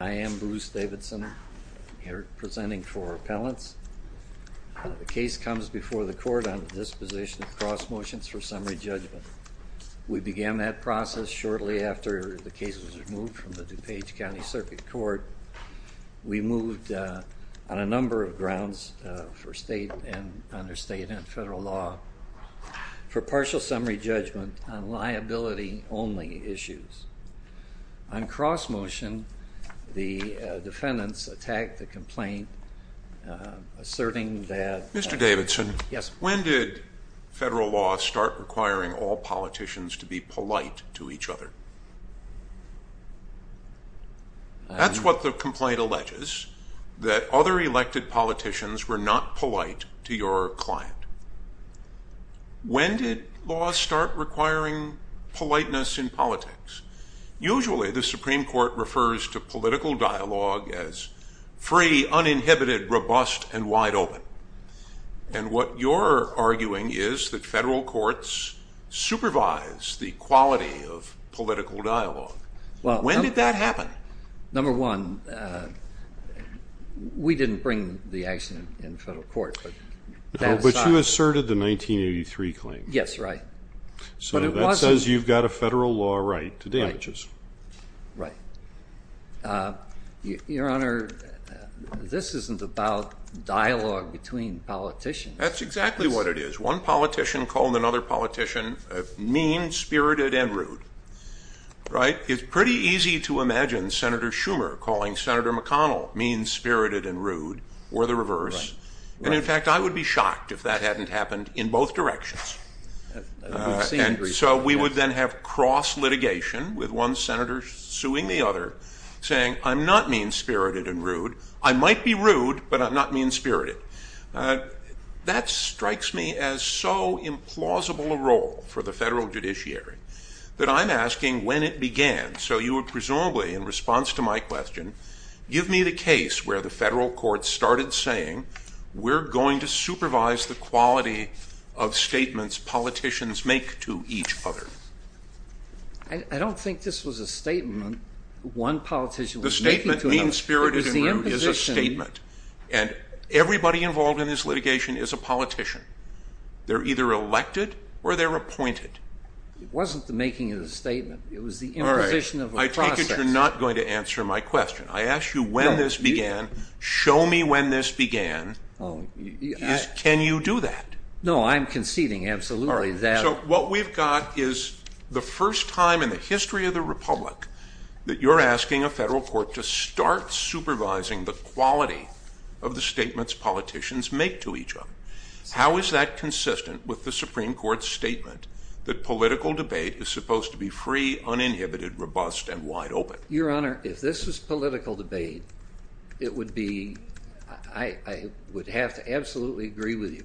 I am Bruce Davidson here presenting for appellants. The case comes before the court on the disposition of cross motions for summary judgment. We began that process shortly after the case was removed from the DuPage County Circuit Court. We moved on a number of grounds for state and under state and federal law for partial summary judgment on liability only issues. On cross motion, the defendants attacked the complaint asserting that... Mr. Davidson, when did federal law start requiring all politicians to be polite to each other? That's what the complaint alleges, that other elected politicians were not polite to your client. When did law start requiring politeness in politics? Usually the Supreme Court refers to political dialogue as free, uninhibited, robust, and wide open. And what you're arguing is that federal courts supervise the quality of political dialogue. When did that happen? Number one, we didn't bring the action in federal court. But you asserted the 1983 claim. Yes, right. So that says you've got a federal law right to damages. Right. Your Honor, this isn't about dialogue between politicians. That's exactly what it is. One politician called another politician mean, spirited, and rude. Right. It's pretty easy to imagine Senator Schumer calling Senator McConnell mean, spirited, and rude, or the reverse. And in fact, I would be shocked if that hadn't happened in both directions. And so we would then have cross litigation with one senator suing the other, saying, I'm not mean, spirited, and rude. I might be rude, but I'm not mean, spirited. That strikes me as so implausible a role for the federal judiciary that I'm asking when it began. So you would presumably, in response to my question, give me the case where the federal courts started saying, we're going to supervise the quality of statements politicians make to each other. I don't think this was a statement one politician was making to another. The statement mean, spirited, and rude is a statement. And everybody involved in this litigation is a politician. They're either elected or they're appointed. It wasn't the making of the statement. It was the imposition of a process. All right. I take it you're not going to answer my question. I asked you when this began. Show me when this began. Can you do that? No, I'm conceding absolutely that. So what we've got is the first time in the history of the republic that you're asking a federal court to start supervising the quality of the statements politicians make to each other. How is that consistent with the Supreme Court's statement that political debate is supposed to be free, uninhibited, robust, and wide open? Your Honor, if this was political debate, it would be, I would have to absolutely agree with you.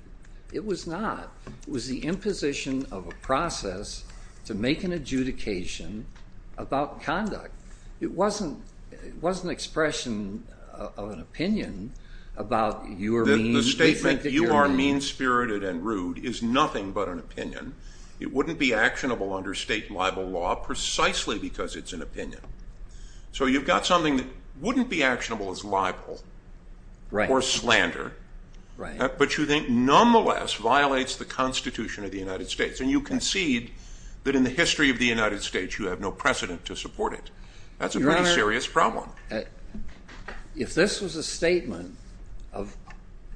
It was not. It was the imposition of a process to make an adjudication about conduct. It wasn't an expression of an opinion about you are mean. The statement you are mean, spirited, and rude is nothing but an opinion. It wouldn't be actionable under state and libel law precisely because it's an opinion. So you've got something that wouldn't be actionable as libel or slander. But you think nonetheless violates the Constitution of the United States. And you concede that in the history of the United States you have no precedent to support it. That's a pretty serious problem. If this was a statement of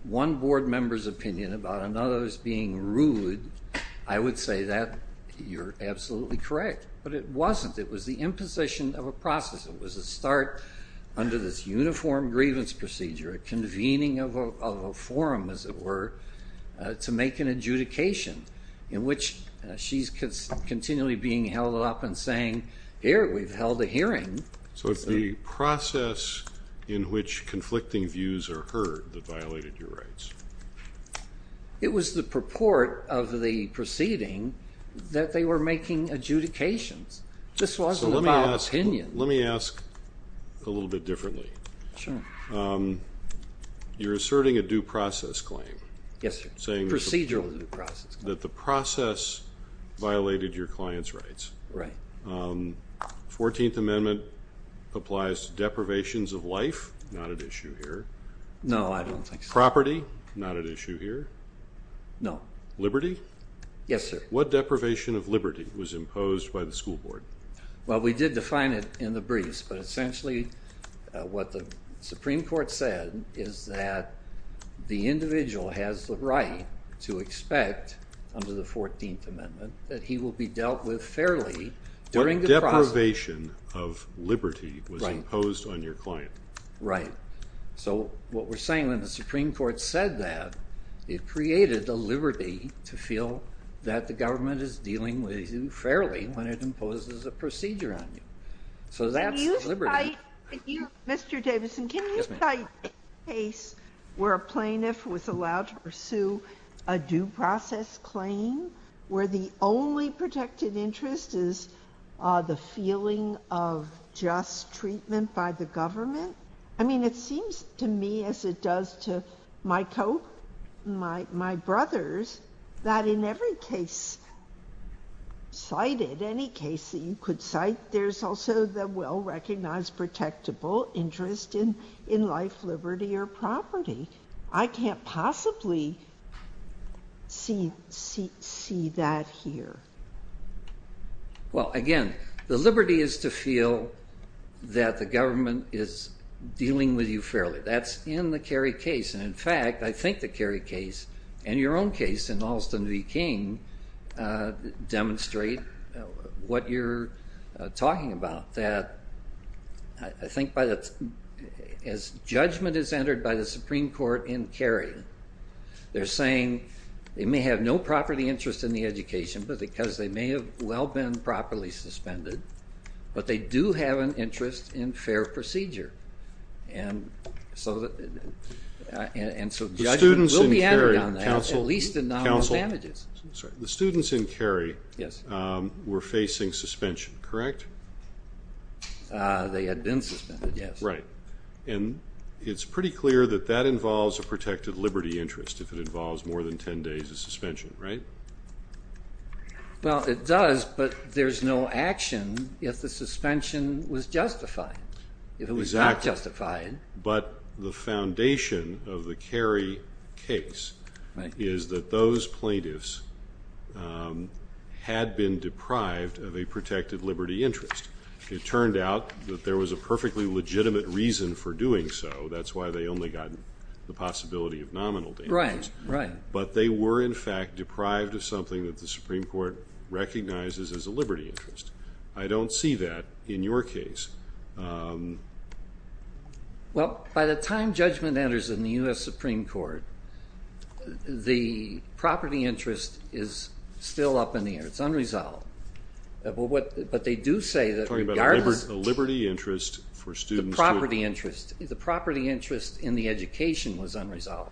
one board member's opinion about another's being rude, I would say that you're absolutely correct. But it wasn't. It was the imposition of a process. It was a start under this uniform grievance procedure, a convening of a forum, as it were, to make an adjudication, in which she's continually being held up and saying, here, we've held a hearing. So it's the process in which conflicting views are heard that violated your rights. It was the purport of the proceeding that they were making adjudications. This wasn't about opinion. So let me ask a little bit differently. Sure. You're asserting a due process claim. Yes, sir. Procedural due process claim. That the process violated your client's rights. Right. Fourteenth Amendment applies to deprivations of life, not at issue here. No, I don't think so. Property, not at issue here. No. Liberty? Yes, sir. What deprivation of liberty was imposed by the school board? Well, we did define it in the briefs, but essentially what the Supreme Court said is that the individual has the right to expect, under the Fourteenth Amendment, that he will be dealt with fairly during the process. What deprivation of liberty was imposed on your client? Right. So what we're saying when the Supreme Court said that, it created the liberty to feel that the government is dealing with you fairly when it imposes a procedure on you. So that's liberty. Mr. Davidson, can you cite a case where a plaintiff was allowed to pursue a due process claim, where the only protected interest is the feeling of just treatment by the government? I mean, it seems to me, as it does to my brothers, that in every case cited, any case that you could cite, there's also the well-recognized protectable interest in life, liberty, or property. I can't possibly see that here. Well, again, the liberty is to feel that the government is dealing with you fairly. That's in the Kerry case, and in fact, I think the Kerry case, and your own case in Alston v. King, demonstrate what you're talking about, that I think as judgment is entered by the Supreme Court in Kerry, they're saying they may have no property interest in the education because they may have well been properly suspended, but they do have an interest in fair procedure. And so judgment will be entered on that, at least in nominal damages. The students in Kerry were facing suspension, correct? They had been suspended, yes. Right. And it's pretty clear that that involves a protected liberty interest if it involves more than 10 days of suspension, right? Well, it does, but there's no action if the suspension was justified. Exactly. If it was not justified. But the foundation of the Kerry case is that those plaintiffs had been deprived of a protected liberty interest. It turned out that there was a perfectly legitimate reason for doing so. That's why they only got the possibility of nominal damages. Right, right. But they were, in fact, deprived of something that the Supreme Court recognizes as a liberty interest. I don't see that in your case. Well, by the time judgment enters in the U.S. Supreme Court, the property interest is still up in the air. It's unresolved. But they do say that regardless of property interest, the property interest in the education was unresolved.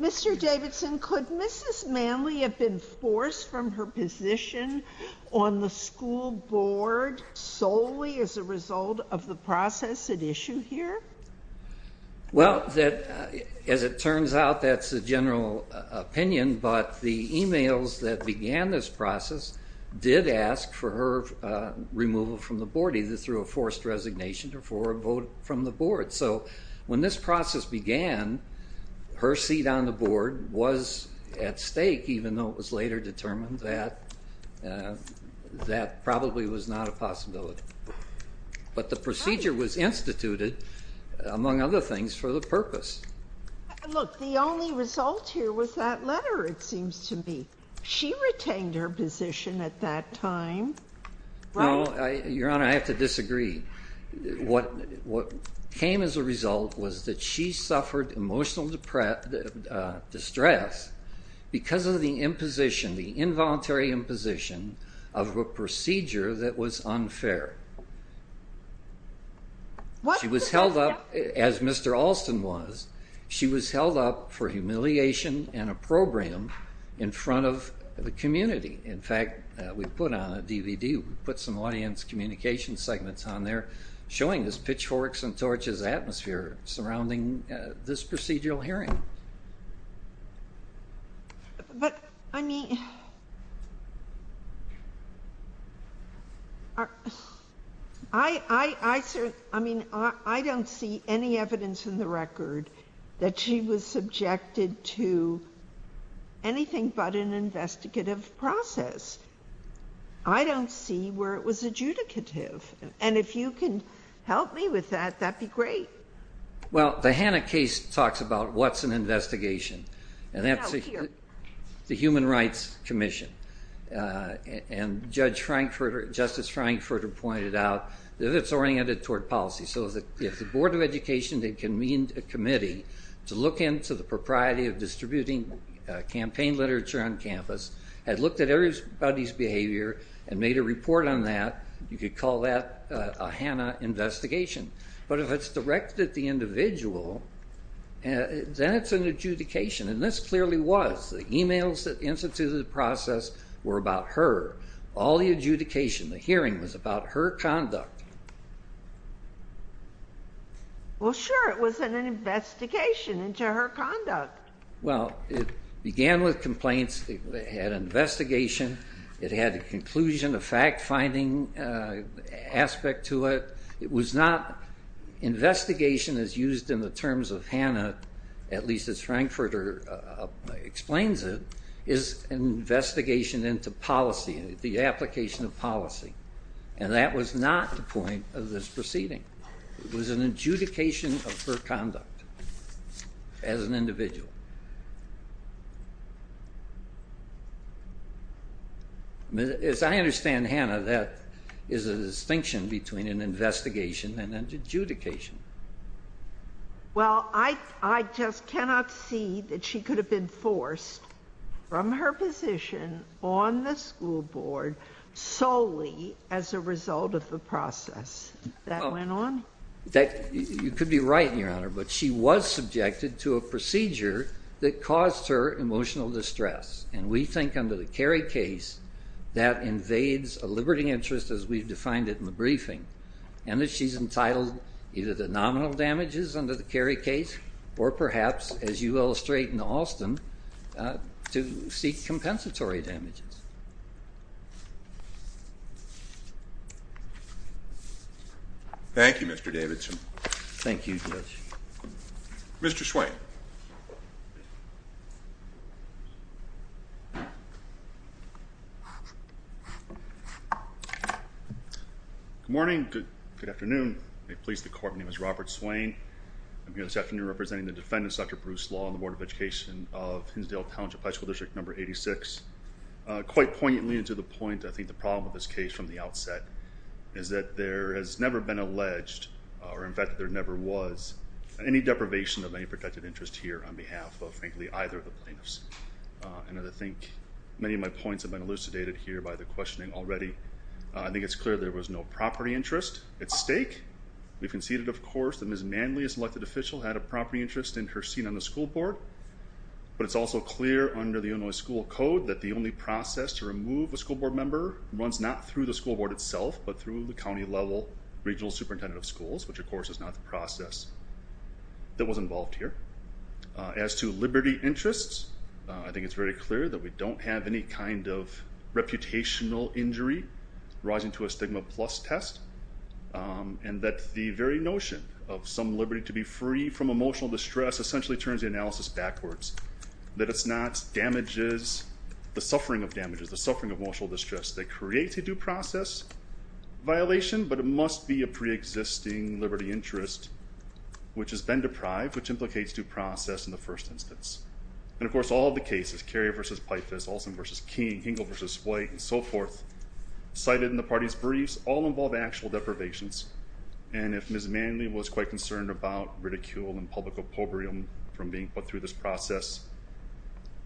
Mr. Davidson, could Mrs. Manley have been forced from her position on the school board solely as a result of the process at issue here? Well, as it turns out, that's a general opinion, but the emails that began this process did ask for her removal from the board, either through a forced resignation or for a vote from the board. So when this process began, her seat on the board was at stake, even though it was later determined that that probably was not a possibility. But the procedure was instituted, among other things, for the purpose. Look, the only result here was that letter, it seems to me. She retained her position at that time. No, Your Honor, I have to disagree. What came as a result was that she suffered emotional distress because of the imposition, the involuntary imposition, of a procedure that was unfair. She was held up, as Mr. Alston was, she was held up for humiliation in a program in front of the community. In fact, we put on a DVD, we put some audience communication segments on there showing this pitchforks-and-torches atmosphere surrounding this procedural hearing. But, I mean, I don't see any evidence in the record that she was subjected to anything but an investigative process. I don't see where it was adjudicative. And if you can help me with that, that would be great. Well, the Hanna case talks about what's an investigation, and that's the Human Rights Commission. And Judge Frankfurter, Justice Frankfurter pointed out that it's oriented toward policy. So if the Board of Education had convened a committee to look into the propriety of distributing campaign literature on campus, had looked at everybody's behavior and made a report on that, you could call that a Hanna investigation. But if it's directed at the individual, then it's an adjudication. And this clearly was. The emails that instituted the process were about her. All the adjudication, the hearing, was about her conduct. Well, sure, it was an investigation into her conduct. Well, it began with complaints. It had an investigation. It had a conclusion, a fact-finding aspect to it. Investigation is used in the terms of Hanna, at least as Frankfurter explains it, is an investigation into policy, the application of policy. And that was not the point of this proceeding. It was an adjudication of her conduct as an individual. As I understand, Hanna, that is a distinction between an investigation and an adjudication. Well, I just cannot see that she could have been forced from her position on the school board solely as a result of the process that went on. You could be right, Your Honor. But she was subjected to a procedure that caused her emotional distress. And we think under the Kerry case, that invades a liberty interest as we've defined it in the briefing. And that she's entitled either to nominal damages under the Kerry case or perhaps, as you illustrate in Alston, to seek compensatory damages. Thank you, Mr. Davidson. Thank you, Judge. Mr. Swain. Good morning. Good afternoon. May it please the Court, my name is Robert Swain. I'm here this afternoon representing the defendants, Dr. Bruce Law and the Board of Education of Hinsdale Township High School District Number 86. Quite poignantly to the point, I think the problem with this case from the outset is that there has never been alleged, or in fact there never was, any deprivation of any protected interest here on behalf of, frankly, either of the plaintiffs. And I think many of my points have been elucidated here by the questioning already. I think it's clear there was no property interest at stake. We've conceded, of course, that Ms. Manley, a selected official, had a property interest in her scene on the school board. But it's also clear under the Illinois school code that the only process to remove a school board member runs not through the school board itself, but through the county level regional superintendent of schools, which of course is not the process that was involved here. As to liberty interests, I think it's very clear that we don't have any kind of reputational injury rising to a stigma plus test. And that the very notion of some liberty to be free from emotional distress essentially turns the analysis backwards. That it's not damages, the suffering of damages, the suffering of emotional distress that creates a due process violation, but it must be a preexisting liberty interest, which has been deprived, which implicates due process in the first instance. And of course, all of the cases, Carrier v. Pifus, Olson v. King, Hinkle v. White, and so forth, cited in the party's briefs, all involve actual deprivations. And if Ms. Manley was quite concerned about ridicule and public oppobrium from being put through this process,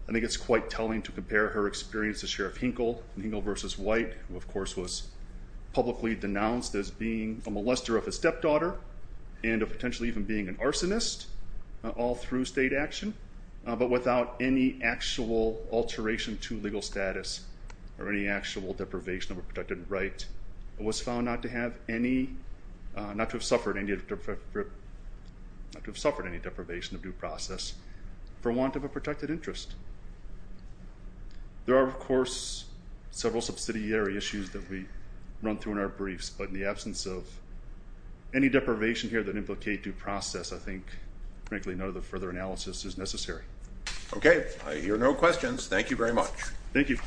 I think it's quite telling to compare her experience as Sheriff Hinkle in Hinkle v. White, who of course was publicly denounced as being a molester of his stepdaughter, and potentially even being an arsonist, all through state action. But without any actual alteration to legal status or any actual deprivation of a protected right, was found not to have suffered any deprivation of due process for want of a protected interest. There are, of course, several subsidiary issues that we run through in our briefs, but in the absence of any deprivation here that implicate due process, I think, frankly, no further analysis is necessary. Okay. I hear no questions. Thank you very much. Thank you.